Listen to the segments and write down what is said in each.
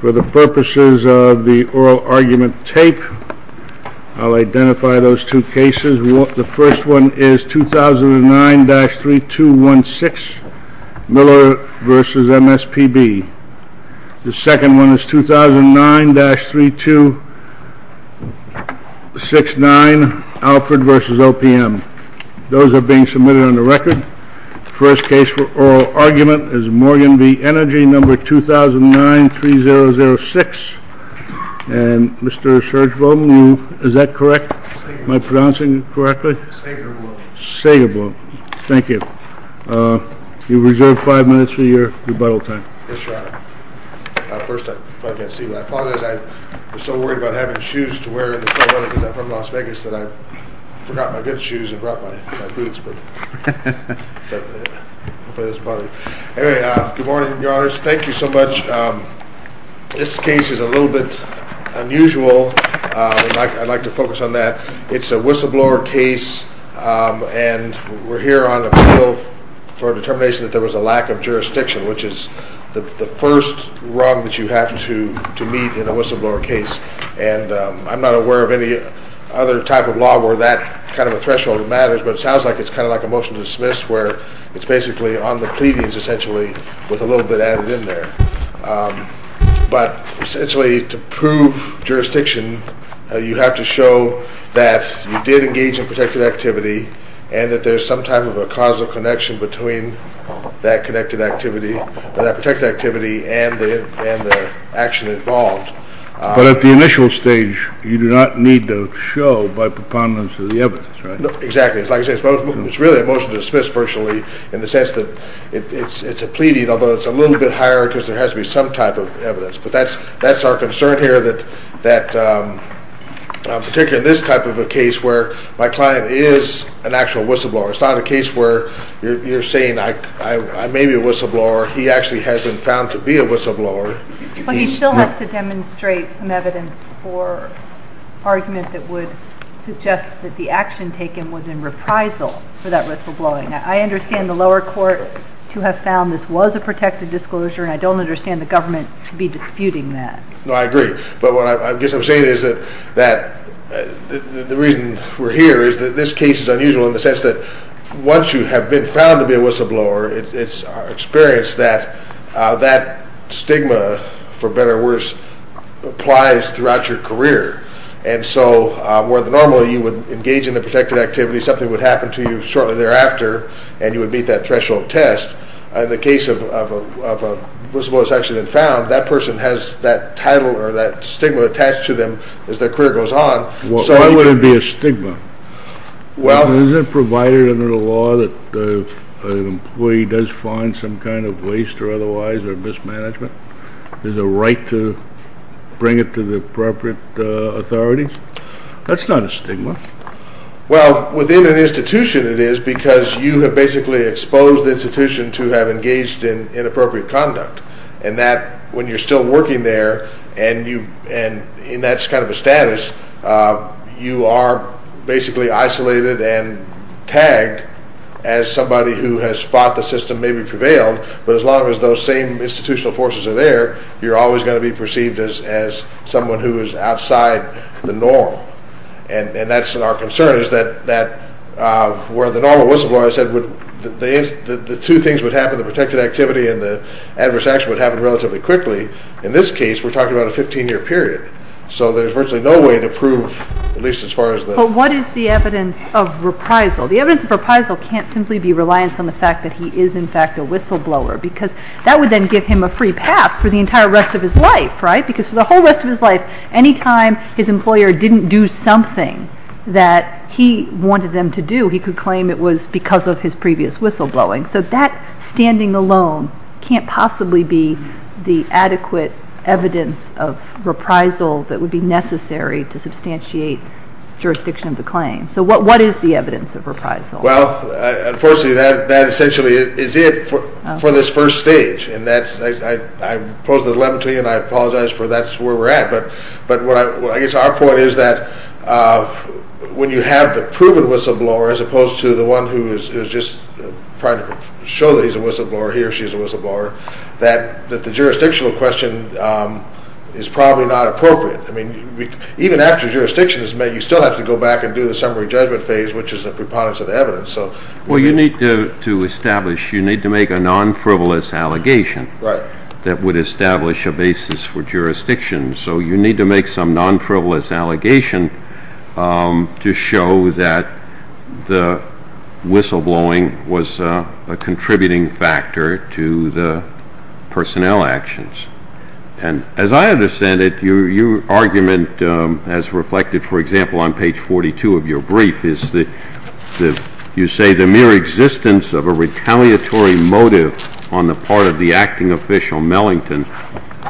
For the purposes of the oral argument tape, I'll identify those two cases. The first one is 2009-3216, Miller v. MSPB. The second one is 2009-3269, Alford v. OPM. Those are being submitted on the record. The first case for oral argument is Morgan v. Energy, number 2009-3006. And Mr. Sergevom, is that correct? Am I pronouncing it correctly? Sagervom. Sagervom. Thank you. You've reserved five minutes for your rebuttal time. Yes, Your Honor. First, if I can see what I apologize. I was so worried about having shoes to wear in the cold weather because I'm from Las Vegas that I forgot my good shoes and brought my boots. Anyway, good morning, Your Honors. Thank you so much. This case is a little bit unusual. I'd like to focus on that. It's a whistleblower case, and we're here on appeal for determination that there was a lack of jurisdiction, which is the first wrong that you have to meet in a whistleblower case. And I'm not aware of any other type of law where that kind of a threshold matters, but it sounds like it's kind of like a motion to dismiss where it's basically on the pleadings, essentially, with a little bit added in there. But essentially, to prove jurisdiction, you have to show that you did engage in protected activity and that there's some type of a causal connection between that protected activity and the action involved. But at the initial stage, you do not need to show by preponderance of the evidence, right? Exactly. Like I said, it's really a motion to dismiss virtually in the sense that it's a pleading, although it's a little bit higher because there has to be some type of evidence. But that's our concern here, particularly in this type of a case where my client is an actual whistleblower. It's not a case where you're saying I may be a whistleblower. He actually has been found to be a whistleblower. But he still has to demonstrate some evidence or argument that would suggest that the action taken was in reprisal for that whistleblowing. I understand the lower court to have found this was a protected disclosure, and I don't understand the government to be disputing that. No, I agree. But what I guess I'm saying is that the reason we're here is that this case is unusual in the sense that once you have been found to be a whistleblower, it's our experience that that stigma, for better or worse, applies throughout your career. And so where normally you would engage in the protected activity, something would happen to you shortly thereafter, and you would meet that threshold test, in the case of a whistleblower who's actually been found, that person has that title or that stigma attached to them as their career goes on. Why would it be a stigma? Isn't it provided under the law that if an employee does find some kind of waste or otherwise or mismanagement, there's a right to bring it to the appropriate authorities? That's not a stigma. Well, within an institution it is because you have basically exposed the institution to have engaged in inappropriate conduct. And that when you're still working there and that's kind of a status, you are basically isolated and tagged as somebody who has fought the system, maybe prevailed, but as long as those same institutional forces are there, you're always going to be perceived as someone who is outside the norm. And that's our concern is that where the normal whistleblower, I said, the two things would happen, the protected activity and the adverse action would happen relatively quickly. In this case, we're talking about a 15-year period. So there's virtually no way to prove, at least as far as the— But what is the evidence of reprisal? The evidence of reprisal can't simply be reliance on the fact that he is, in fact, a whistleblower because that would then give him a free pass for the entire rest of his life, right? Because for the whole rest of his life, anytime his employer didn't do something that he wanted them to do, he could claim it was because of his previous whistleblowing. So that standing alone can't possibly be the adequate evidence of reprisal that would be necessary to substantiate jurisdiction of the claim. So what is the evidence of reprisal? Well, unfortunately, that essentially is it for this first stage. And I pose the dilemma to you, and I apologize for that's where we're at. But I guess our point is that when you have the proven whistleblower as opposed to the one who is just trying to show that he's a whistleblower, he or she is a whistleblower, that the jurisdictional question is probably not appropriate. I mean, even after jurisdiction is made, you still have to go back and do the summary judgment phase, which is a preponderance of the evidence. Well, you need to establish, you need to make a non-frivolous allegation that would establish a basis for jurisdiction. So you need to make some non-frivolous allegation to show that the whistleblowing was a contributing factor to the personnel actions. And as I understand it, your argument as reflected, for example, on page 42 of your brief, is that you say the mere existence of a retaliatory motive on the part of the acting official, Mellington,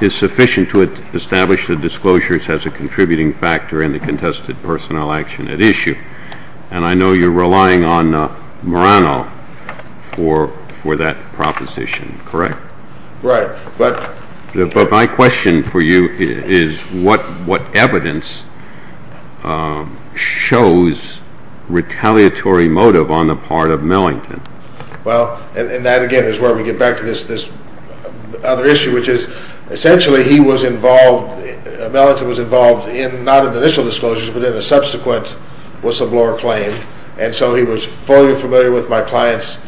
is sufficient to establish the disclosures as a contributing factor in the contested personnel action at issue. And I know you're relying on Murano for that proposition, correct? Right. But my question for you is what evidence shows retaliatory motive on the part of Mellington? Well, and that, again, is where we get back to this other issue, which is essentially he was involved, Mellington was involved not in the initial disclosures, but in the subsequent whistleblower claim. And so he was fully familiar with my client's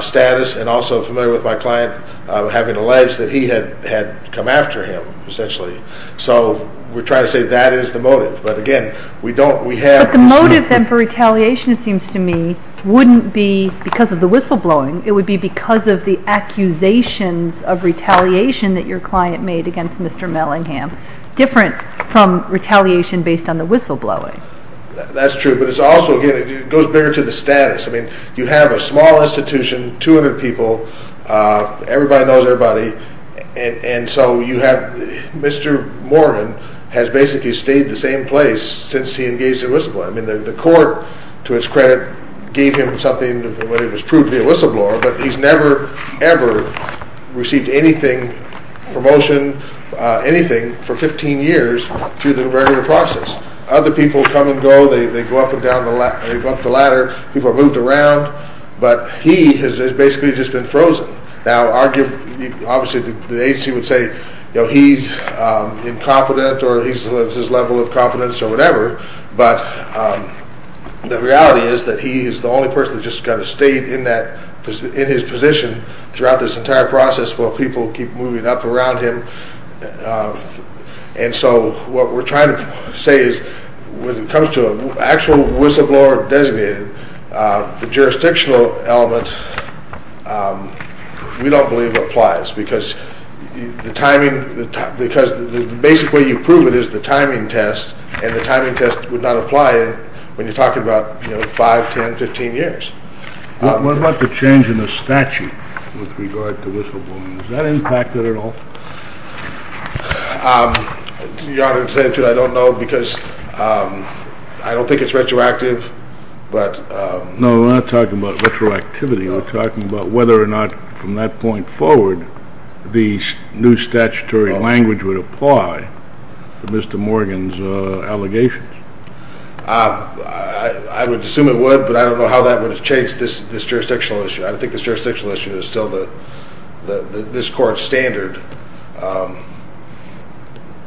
status and also familiar with my client having alleged that he had come after him, essentially. So we're trying to say that is the motive. But again, we don't, we have... But the motive then for retaliation, it seems to me, wouldn't be because of the whistleblowing. It would be because of the accusations of retaliation that your client made against Mr. Mellingham, different from retaliation based on the whistleblowing. That's true. But it's also, again, it goes bigger to the status. I mean, you have a small institution, 200 people, everybody knows everybody, and so you have Mr. Mormon has basically stayed the same place since he engaged in whistleblowing. I mean, the court, to its credit, gave him something when he was proved to be a whistleblower, but he's never, ever received anything, promotion, anything for 15 years through the regular process. Other people come and go. They go up and down the ladder. People have moved around. But he has basically just been frozen. Now, obviously the agency would say, you know, he's incompetent or he's at this level of competence or whatever, but the reality is that he is the only person that's just kind of stayed in his position throughout this entire process while people keep moving up around him. And so what we're trying to say is when it comes to an actual whistleblower designated, the jurisdictional element we don't believe applies because the timing, because the basic way you prove it is the timing test, and the timing test would not apply when you're talking about 5, 10, 15 years. What about the change in the statute with regard to whistleblowing? Has that impacted at all? Your Honor, to tell you the truth, I don't know because I don't think it's retroactive. No, we're not talking about retroactivity. We're talking about whether or not from that point forward the new statutory language would apply to Mr. Morgan's allegations. I would assume it would, but I don't know how that would have changed this jurisdictional issue. I don't think this jurisdictional issue is still this court's standard.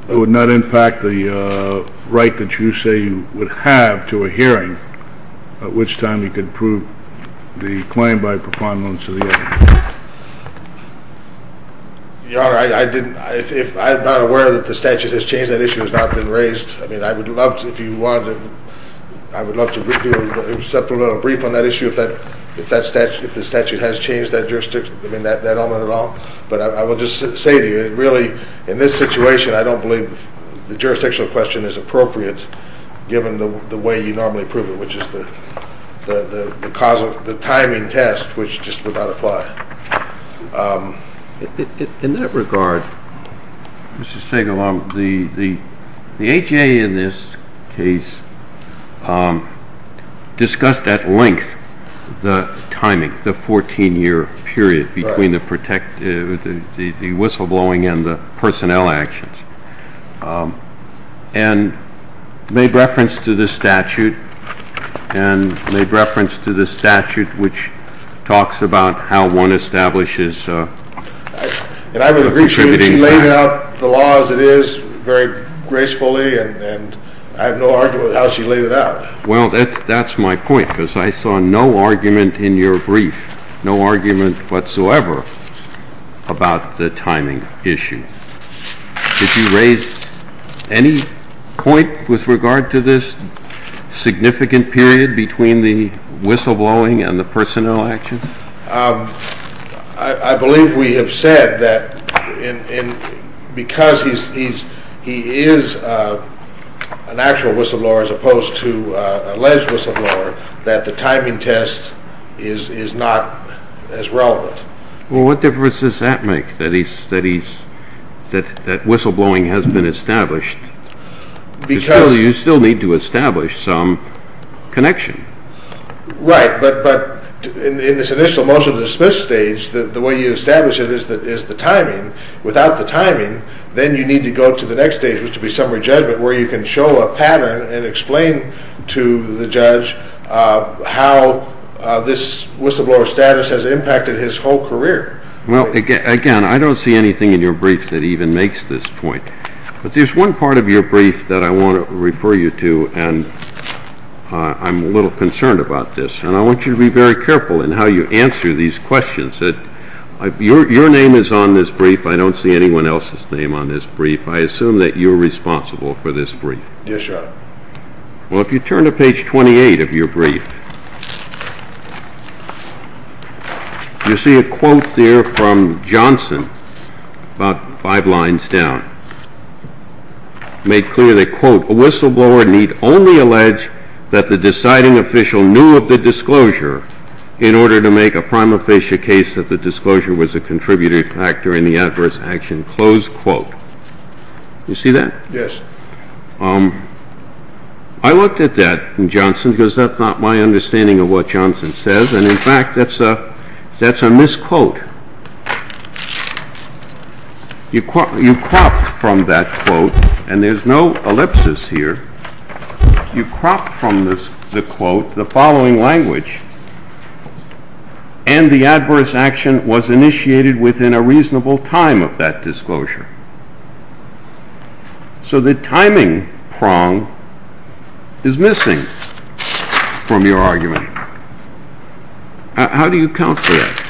It would not impact the right that you say you would have to a hearing at which time you could prove the claim by proponderance of the evidence. Your Honor, I'm not aware that the statute has changed. That issue has not been raised. I mean, I would love to brief you on that issue if the statute has changed that jurisdiction. I mean, that element at all. But I will just say to you, really, in this situation, I don't believe the jurisdictional question is appropriate given the way you normally prove it, which is the timing test, which just would not apply. In that regard, Mr. Stegel, the HA in this case discussed at length the timing, the 14-year period between the whistleblowing and the personnel actions and made reference to the statute, and made reference to the statute which talks about how one establishes And I would appreciate if she laid out the law as it is very gracefully, and I have no argument with how she laid it out. Well, that's my point, because I saw no argument in your brief, no argument whatsoever about the timing issue. Did you raise any point with regard to this significant period between the whistleblowing and the personnel actions? I believe we have said that because he is an actual whistleblower as opposed to an alleged whistleblower, that the timing test is not as relevant. Well, what difference does that make, that whistleblowing has been established? Because you still need to establish some connection. Right, but in this initial motion to dismiss stage, the way you establish it is the timing. Without the timing, then you need to go to the next stage, which would be summary judgment, where you can show a pattern and explain to the judge how this whistleblower status has impacted his whole career. Well, again, I don't see anything in your brief that even makes this point. But there's one part of your brief that I want to refer you to, and I'm a little concerned about this, and I want you to be very careful in how you answer these questions. Your name is on this brief, I don't see anyone else's name on this brief. I assume that you're responsible for this brief. Yes, sir. Well, if you turn to page 28 of your brief, you see a quote there from Johnson, about five lines down. Made clear that, quote, You see that? Yes. I looked at that in Johnson, because that's not my understanding of what Johnson says. And, in fact, that's a misquote. You cropped from that quote, and there's no ellipsis here. You cropped from the quote the following language. And the adverse action was initiated within a reasonable time of that disclosure. So the timing prong is missing from your argument. How do you account for that?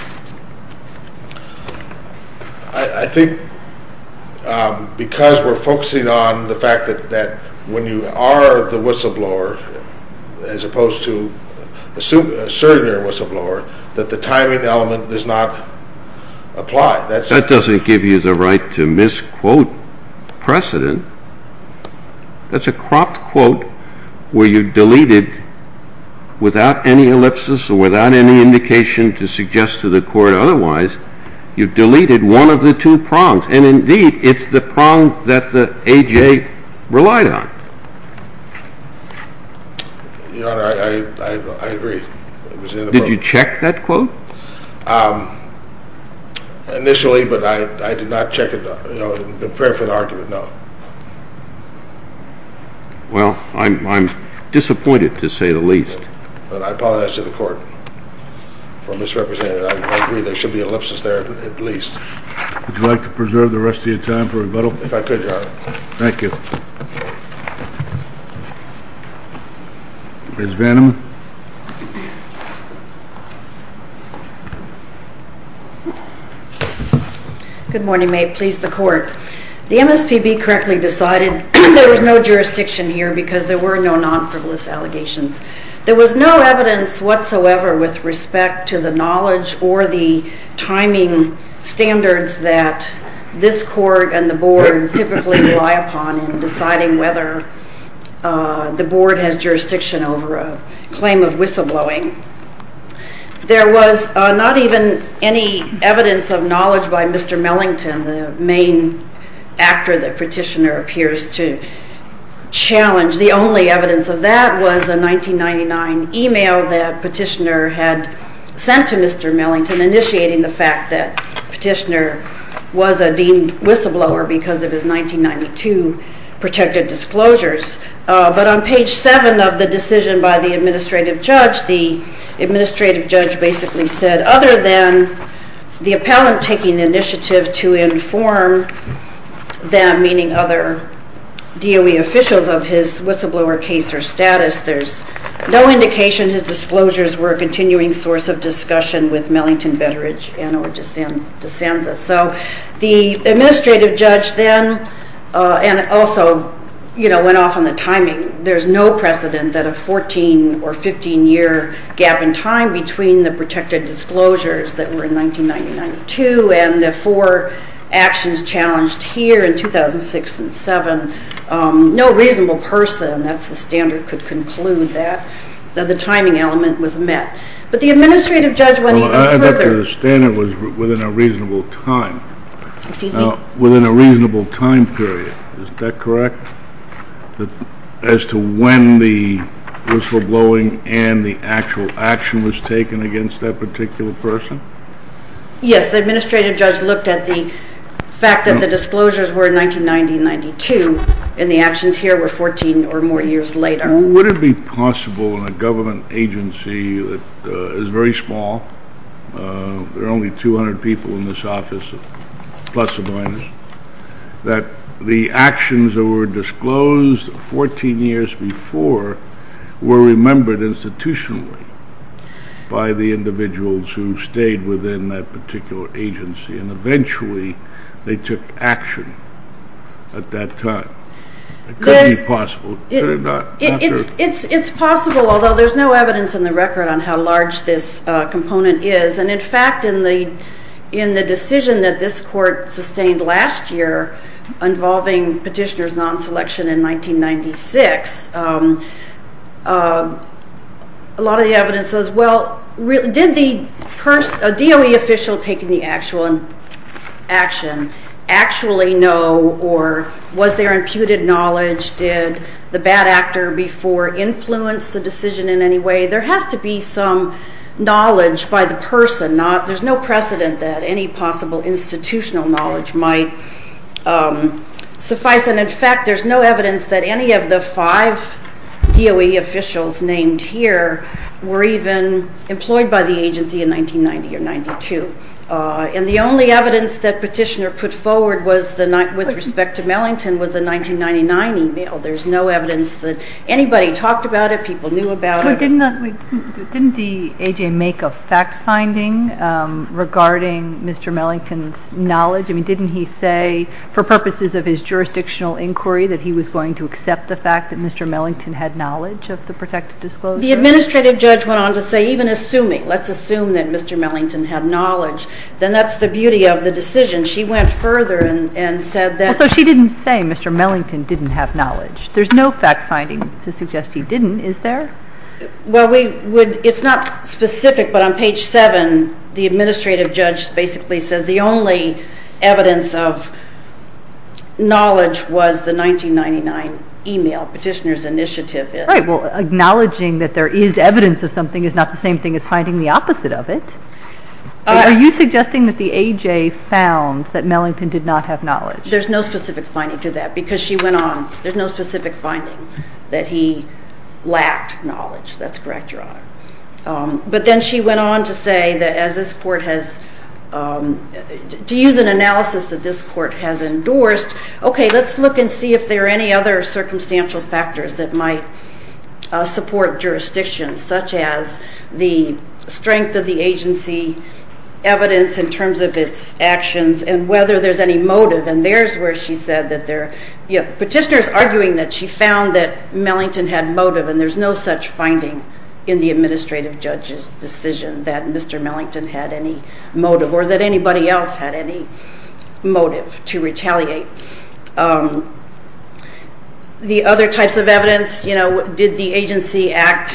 I think because we're focusing on the fact that when you are the whistleblower, as opposed to a surrogate whistleblower, that the timing element does not apply. That doesn't give you the right to misquote precedent. That's a cropped quote where you deleted, without any ellipsis or without any indication to suggest to the court otherwise, you deleted one of the two prongs. And, indeed, it's the prong that the A.J. relied on. Your Honor, I agree. Did you check that quote? Initially, but I did not check it and prepare for the argument, no. Well, I'm disappointed to say the least. But I apologize to the court for misrepresenting it. I agree there should be an ellipsis there at least. Would you like to preserve the rest of your time for rebuttal? If I could, Your Honor. Thank you. Ms. Veneman. Good morning. May it please the court. The MSPB correctly decided there was no jurisdiction here because there were no non-frivolous allegations. There was no evidence whatsoever with respect to the knowledge or the timing standards that this court and the board typically rely upon in deciding whether the board has jurisdiction over a claim of whistleblowing. There was not even any evidence of knowledge by Mr. Mellington, the main actor that Petitioner appears to challenge. The only evidence of that was a 1999 email that Petitioner had sent to Mr. Mellington initiating the fact that Petitioner was a deemed whistleblower because of his 1992 protected disclosures. But on page 7 of the decision by the administrative judge, the administrative judge basically said, other than the appellant taking initiative to inform them, meaning other DOE officials, of his whistleblower case or status, there's no indication his disclosures were a continuing source of discussion with Mellington, Betteridge, and Desanza. So the administrative judge then, and also went off on the timing, there's no precedent that a 14 or 15 year gap in time between the protected disclosures that were in 1992 and the four actions challenged here in 2006 and 2007, no reasonable person, that's the standard, could conclude that the timing element was met. But the administrative judge went even further. Well, I understand it was within a reasonable time. Excuse me? Within a reasonable time period, is that correct? As to when the whistleblowing and the actual action was taken against that particular person? Yes, the administrative judge looked at the fact that the disclosures were in 1990 and 92, and the actions here were 14 or more years later. Would it be possible in a government agency that is very small, there are only 200 people in this office, plus or minus, that the actions that were disclosed 14 years before were remembered institutionally by the individuals who stayed within that particular agency, and eventually they took action at that time? It could be possible. It's possible, although there's no evidence in the record on how large this component is, and in fact in the decision that this court sustained last year involving petitioners non-selection in 1996, a lot of the evidence says, well, did the DOE official taking the actual action actually know, or was there imputed knowledge? Did the bad actor before influence the decision in any way? There has to be some knowledge by the person. There's no precedent that any possible institutional knowledge might suffice, and in fact there's no evidence that any of the five DOE officials named here were even employed by the agency in 1990 or 92. And the only evidence that petitioner put forward with respect to Mellington was the 1999 email. There's no evidence that anybody talked about it, people knew about it. Didn't the AJ make a fact finding regarding Mr. Mellington's knowledge? I mean, didn't he say, for purposes of his jurisdictional inquiry, that he was going to accept the fact that Mr. Mellington had knowledge of the protected disclosure? The administrative judge went on to say, even assuming, let's assume that Mr. Mellington had knowledge, then that's the beauty of the decision. She went further and said that. So she didn't say Mr. Mellington didn't have knowledge. There's no fact finding to suggest he didn't, is there? Well, it's not specific, but on page 7 the administrative judge basically says the only evidence of knowledge was the 1999 email, petitioner's initiative. Right, well, acknowledging that there is evidence of something is not the same thing as finding the opposite of it. Are you suggesting that the AJ found that Mellington did not have knowledge? There's no specific finding to that because she went on, there's no specific finding that he lacked knowledge. That's correct, Your Honor. But then she went on to say that as this court has, to use an analysis that this court has endorsed, okay, let's look and see if there are any other circumstantial factors that might support jurisdiction, such as the strength of the agency, evidence in terms of its actions, and whether there's any motive, and there's where she said that there, yeah, petitioner's arguing that she found that Mellington had motive, and there's no such finding in the administrative judge's decision that Mr. Mellington had any motive, or that anybody else had any motive to retaliate. The other types of evidence, you know, did the agency act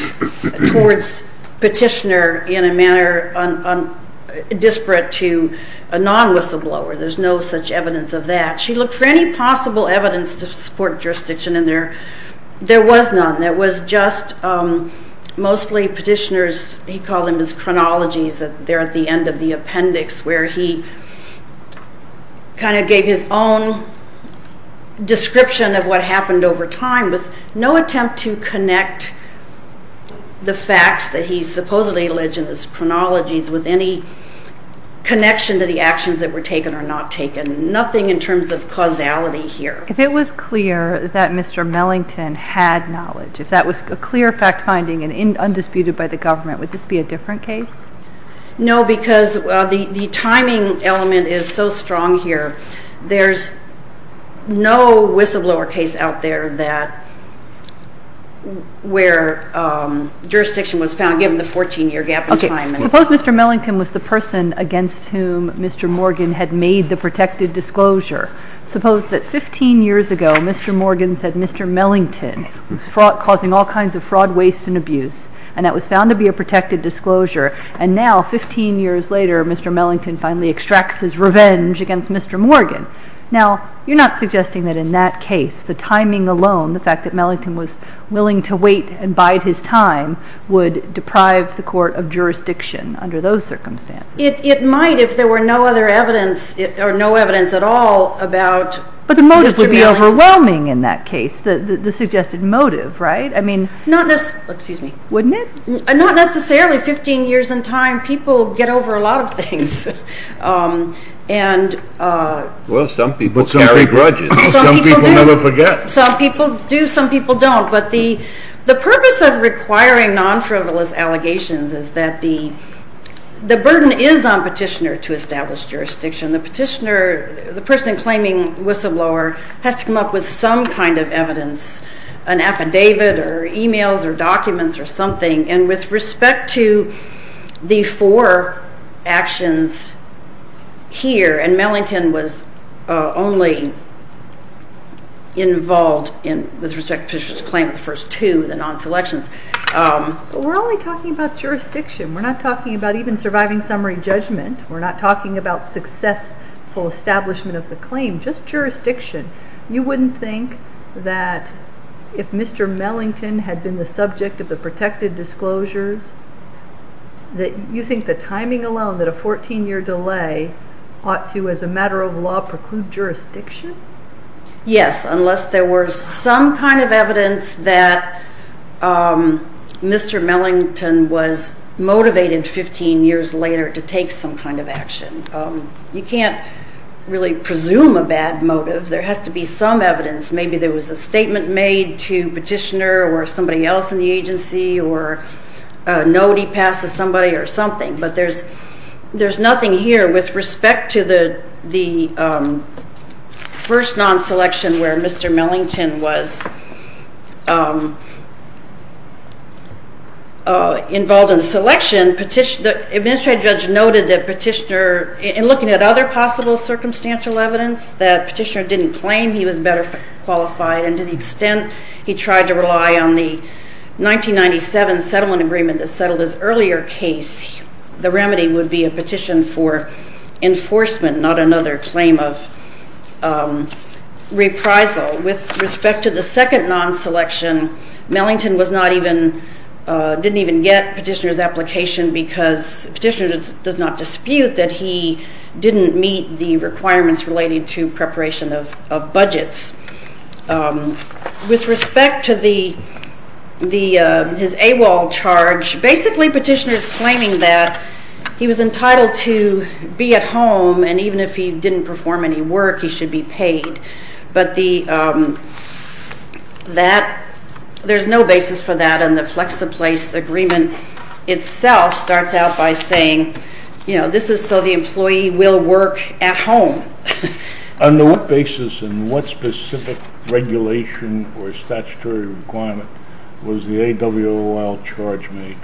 towards petitioner in a manner disparate to a non-whistleblower? There's no such evidence of that. She looked for any possible evidence to support jurisdiction, and there was none. There was just mostly petitioner's, he called them his chronologies, they're at the end of the appendix where he kind of gave his own description of what happened over time with no attempt to connect the facts that he supposedly alleged as chronologies with any connection to the actions that were taken or not taken, nothing in terms of causality here. If it was clear that Mr. Mellington had knowledge, if that was a clear fact-finding and undisputed by the government, would this be a different case? No, because the timing element is so strong here. There's no whistleblower case out there where jurisdiction was found given the 14-year gap in time. Suppose Mr. Mellington was the person against whom Mr. Morgan had made the protected disclosure. Suppose that 15 years ago Mr. Morgan said Mr. Mellington was causing all kinds of fraud, waste, and abuse, and that was found to be a protected disclosure, and now, 15 years later, Mr. Mellington finally extracts his revenge against Mr. Morgan. Now, you're not suggesting that in that case, the timing alone, the fact that Mellington was willing to wait and bide his time would deprive the court of jurisdiction under those circumstances? It might if there were no other evidence or no evidence at all about Mr. Mellington. But the motive would be overwhelming in that case, the suggested motive, right? Excuse me. Wouldn't it? Not necessarily. Fifteen years in time, people get over a lot of things. Well, some people carry brudges. Some people do. Some people never forget. Some people do, some people don't. But the purpose of requiring non-frivolous allegations is that the burden is on petitioner to establish jurisdiction. The petitioner, the person claiming whistleblower, has to come up with some kind of evidence, an affidavit or e-mails or documents or something. And with respect to the four actions here, and Mellington was only involved with respect to the petitioner's claim, the first two, the non-selections. We're only talking about jurisdiction. We're not talking about even surviving summary judgment. We're not talking about successful establishment of the claim, just jurisdiction. You wouldn't think that if Mr. Mellington had been the subject of the protected disclosures, that you think the timing alone that a 14-year delay ought to, as a matter of law, preclude jurisdiction? Yes, unless there were some kind of evidence that Mr. Mellington was motivated 15 years later to take some kind of action. You can't really presume a bad motive. There has to be some evidence. Maybe there was a statement made to petitioner or somebody else in the agency or a note he passed to somebody or something. But there's nothing here with respect to the first non-selection where Mr. Mellington was involved in the selection. The administrative judge noted that petitioner, in looking at other possible circumstantial evidence, that petitioner didn't claim he was better qualified, and to the extent he tried to rely on the 1997 settlement agreement that settled his earlier case, the remedy would be a petition for enforcement, not another claim of reprisal. With respect to the second non-selection, Mellington didn't even get petitioner's application because petitioner does not dispute that he didn't meet the requirements related to preparation of budgets. With respect to his AWOL charge, basically petitioner is claiming that he was entitled to be at home, and even if he didn't perform any work, he should be paid. But there's no basis for that, and the FlexiPlace agreement itself starts out by saying, this is so the employee will work at home. On what basis and what specific regulation or statutory requirement was the AWOL charge made?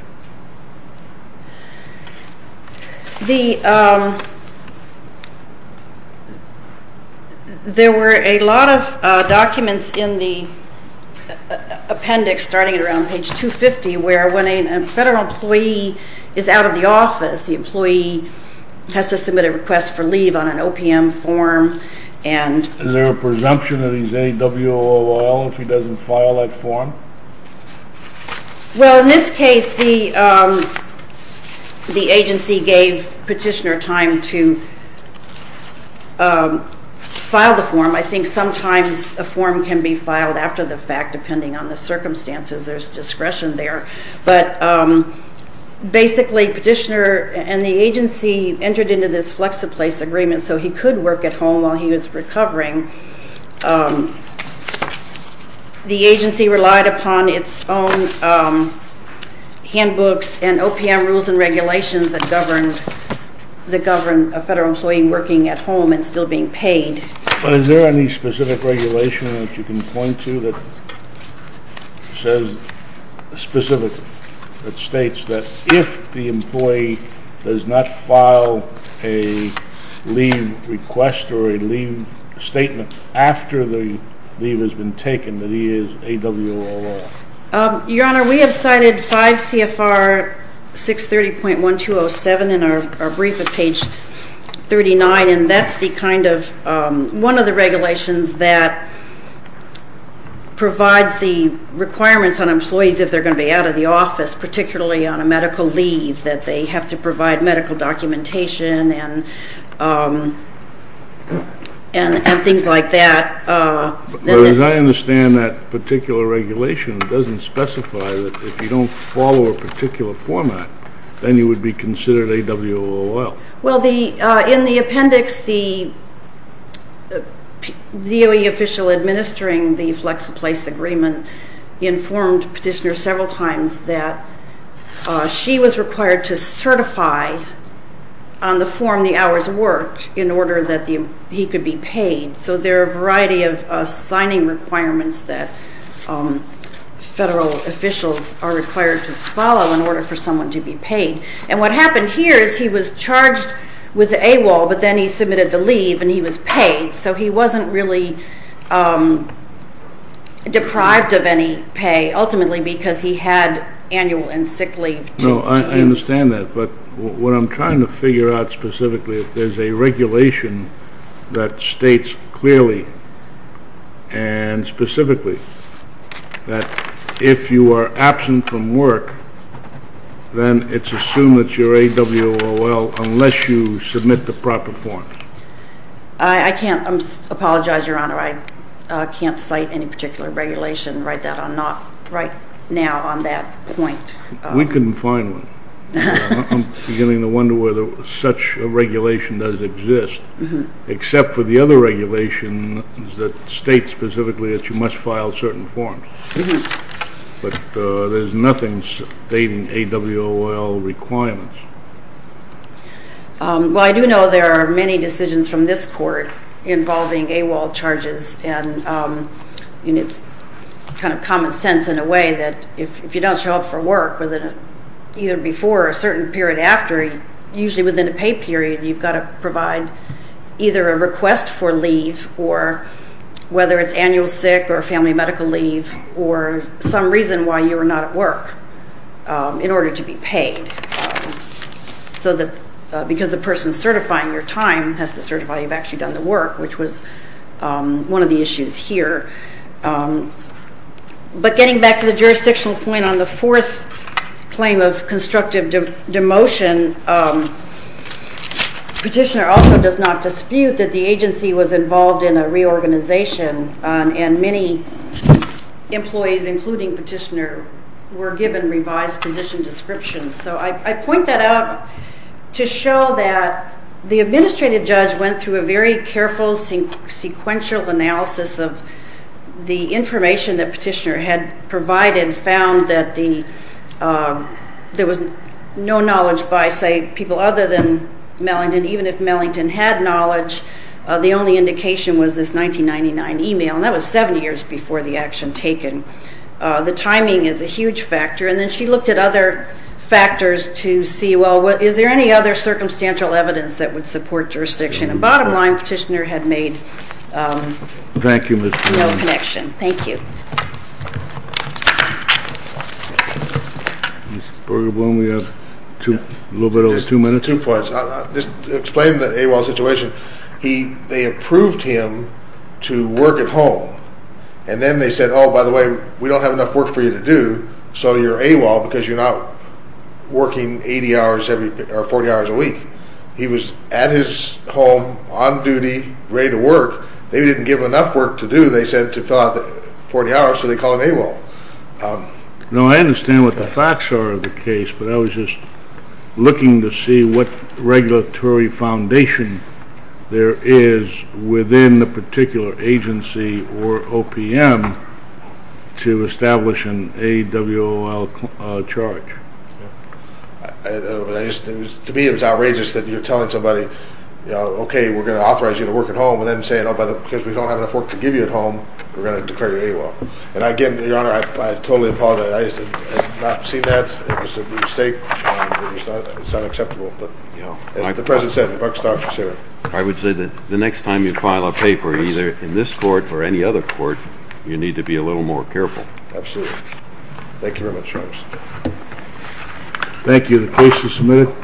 There were a lot of documents in the appendix, starting around page 250, where when a federal employee is out of the office, the employee has to submit a request for leave on an OPM form. Is there a presumption that he's AWOL if he doesn't file that form? Well, in this case, the agency gave petitioner time to file the form. I think sometimes a form can be filed after the fact, depending on the circumstances. There's discretion there. But basically, petitioner and the agency entered into this FlexiPlace agreement, so he could work at home while he was recovering. The agency relied upon its own handbooks and OPM rules and regulations that govern a federal employee working at home and still being paid. Is there any specific regulation that you can point to that says specifically, that states that if the employee does not file a leave request or a leave statement after the leave has been taken, that he is AWOL? Your Honor, we have cited 5 CFR 630.1207 in our brief at page 39, and that's one of the regulations that provides the requirements on employees if they're going to be out of the office, particularly on a medical leave, that they have to provide medical documentation and things like that. But as I understand that particular regulation, it doesn't specify that if you don't follow a particular format, then you would be considered AWOL. Well, in the appendix, the DOE official administering the FlexiPlace agreement informed petitioner several times that she was required to certify on the form the hours worked in order that he could be paid. So there are a variety of signing requirements that federal officials are required to follow in order for someone to be paid. And what happened here is he was charged with AWOL, but then he submitted the leave, and he was paid. So he wasn't really deprived of any pay, ultimately because he had annual and sick leave. No, I understand that. But what I'm trying to figure out specifically is there's a regulation that states clearly and specifically that if you are absent from work, then it's assumed that you're AWOL unless you submit the proper form. I apologize, Your Honor, I can't cite any particular regulation right now on that point. We couldn't find one. I'm beginning to wonder whether such a regulation does exist, except for the other regulations that state specifically that you must file certain forms. But there's nothing stating AWOL requirements. Well, I do know there are many decisions from this Court involving AWOL charges, and it's kind of common sense in a way that if you don't show up for work either before or a certain period after, usually within a pay period, you've got to provide either a request for leave or whether it's annual sick or family medical leave or some reason why you are not at work in order to be paid. So that because the person certifying your time has to certify you've actually done the work, which was one of the issues here. But getting back to the jurisdictional point on the fourth claim of constructive demotion, Petitioner also does not dispute that the agency was involved in a reorganization and many employees, including Petitioner, were given revised position descriptions. So I point that out to show that the administrative judge went through a very careful sequential analysis of the information that Petitioner had provided, found that there was no knowledge by, say, people other than Mellington. Even if Mellington had knowledge, the only indication was this 1999 e-mail, and that was seven years before the action taken. The timing is a huge factor. And then she looked at other factors to see, well, is there any other circumstantial evidence that would support jurisdiction? And bottom line, Petitioner had made no connection. Mr. Berger-Blohm, we have a little bit over two minutes. Just two points. Just to explain the AWOL situation, they approved him to work at home, and then they said, oh, by the way, we don't have enough work for you to do, so you're AWOL because you're not working 80 hours or 40 hours a week. He was at his home, on duty, ready to work. They didn't give him enough work to do, they said, to fill out the 40 hours, so they called him AWOL. No, I understand what the facts are of the case, but I was just looking to see what regulatory foundation there is within the particular agency or OPM to establish an AWOL charge. To me, it was outrageous that you're telling somebody, okay, we're going to authorize you to work at home, and then saying, oh, because we don't have enough work to give you at home, we're going to declare you AWOL. And, again, Your Honor, I totally apologize. I have not seen that. It was a mistake. It's unacceptable. As the President said, the buck stops here. I would say that the next time you file a paper, either in this court or any other court, you need to be a little more careful. Absolutely. Thank you very much, Travis. Thank you. The case is submitted.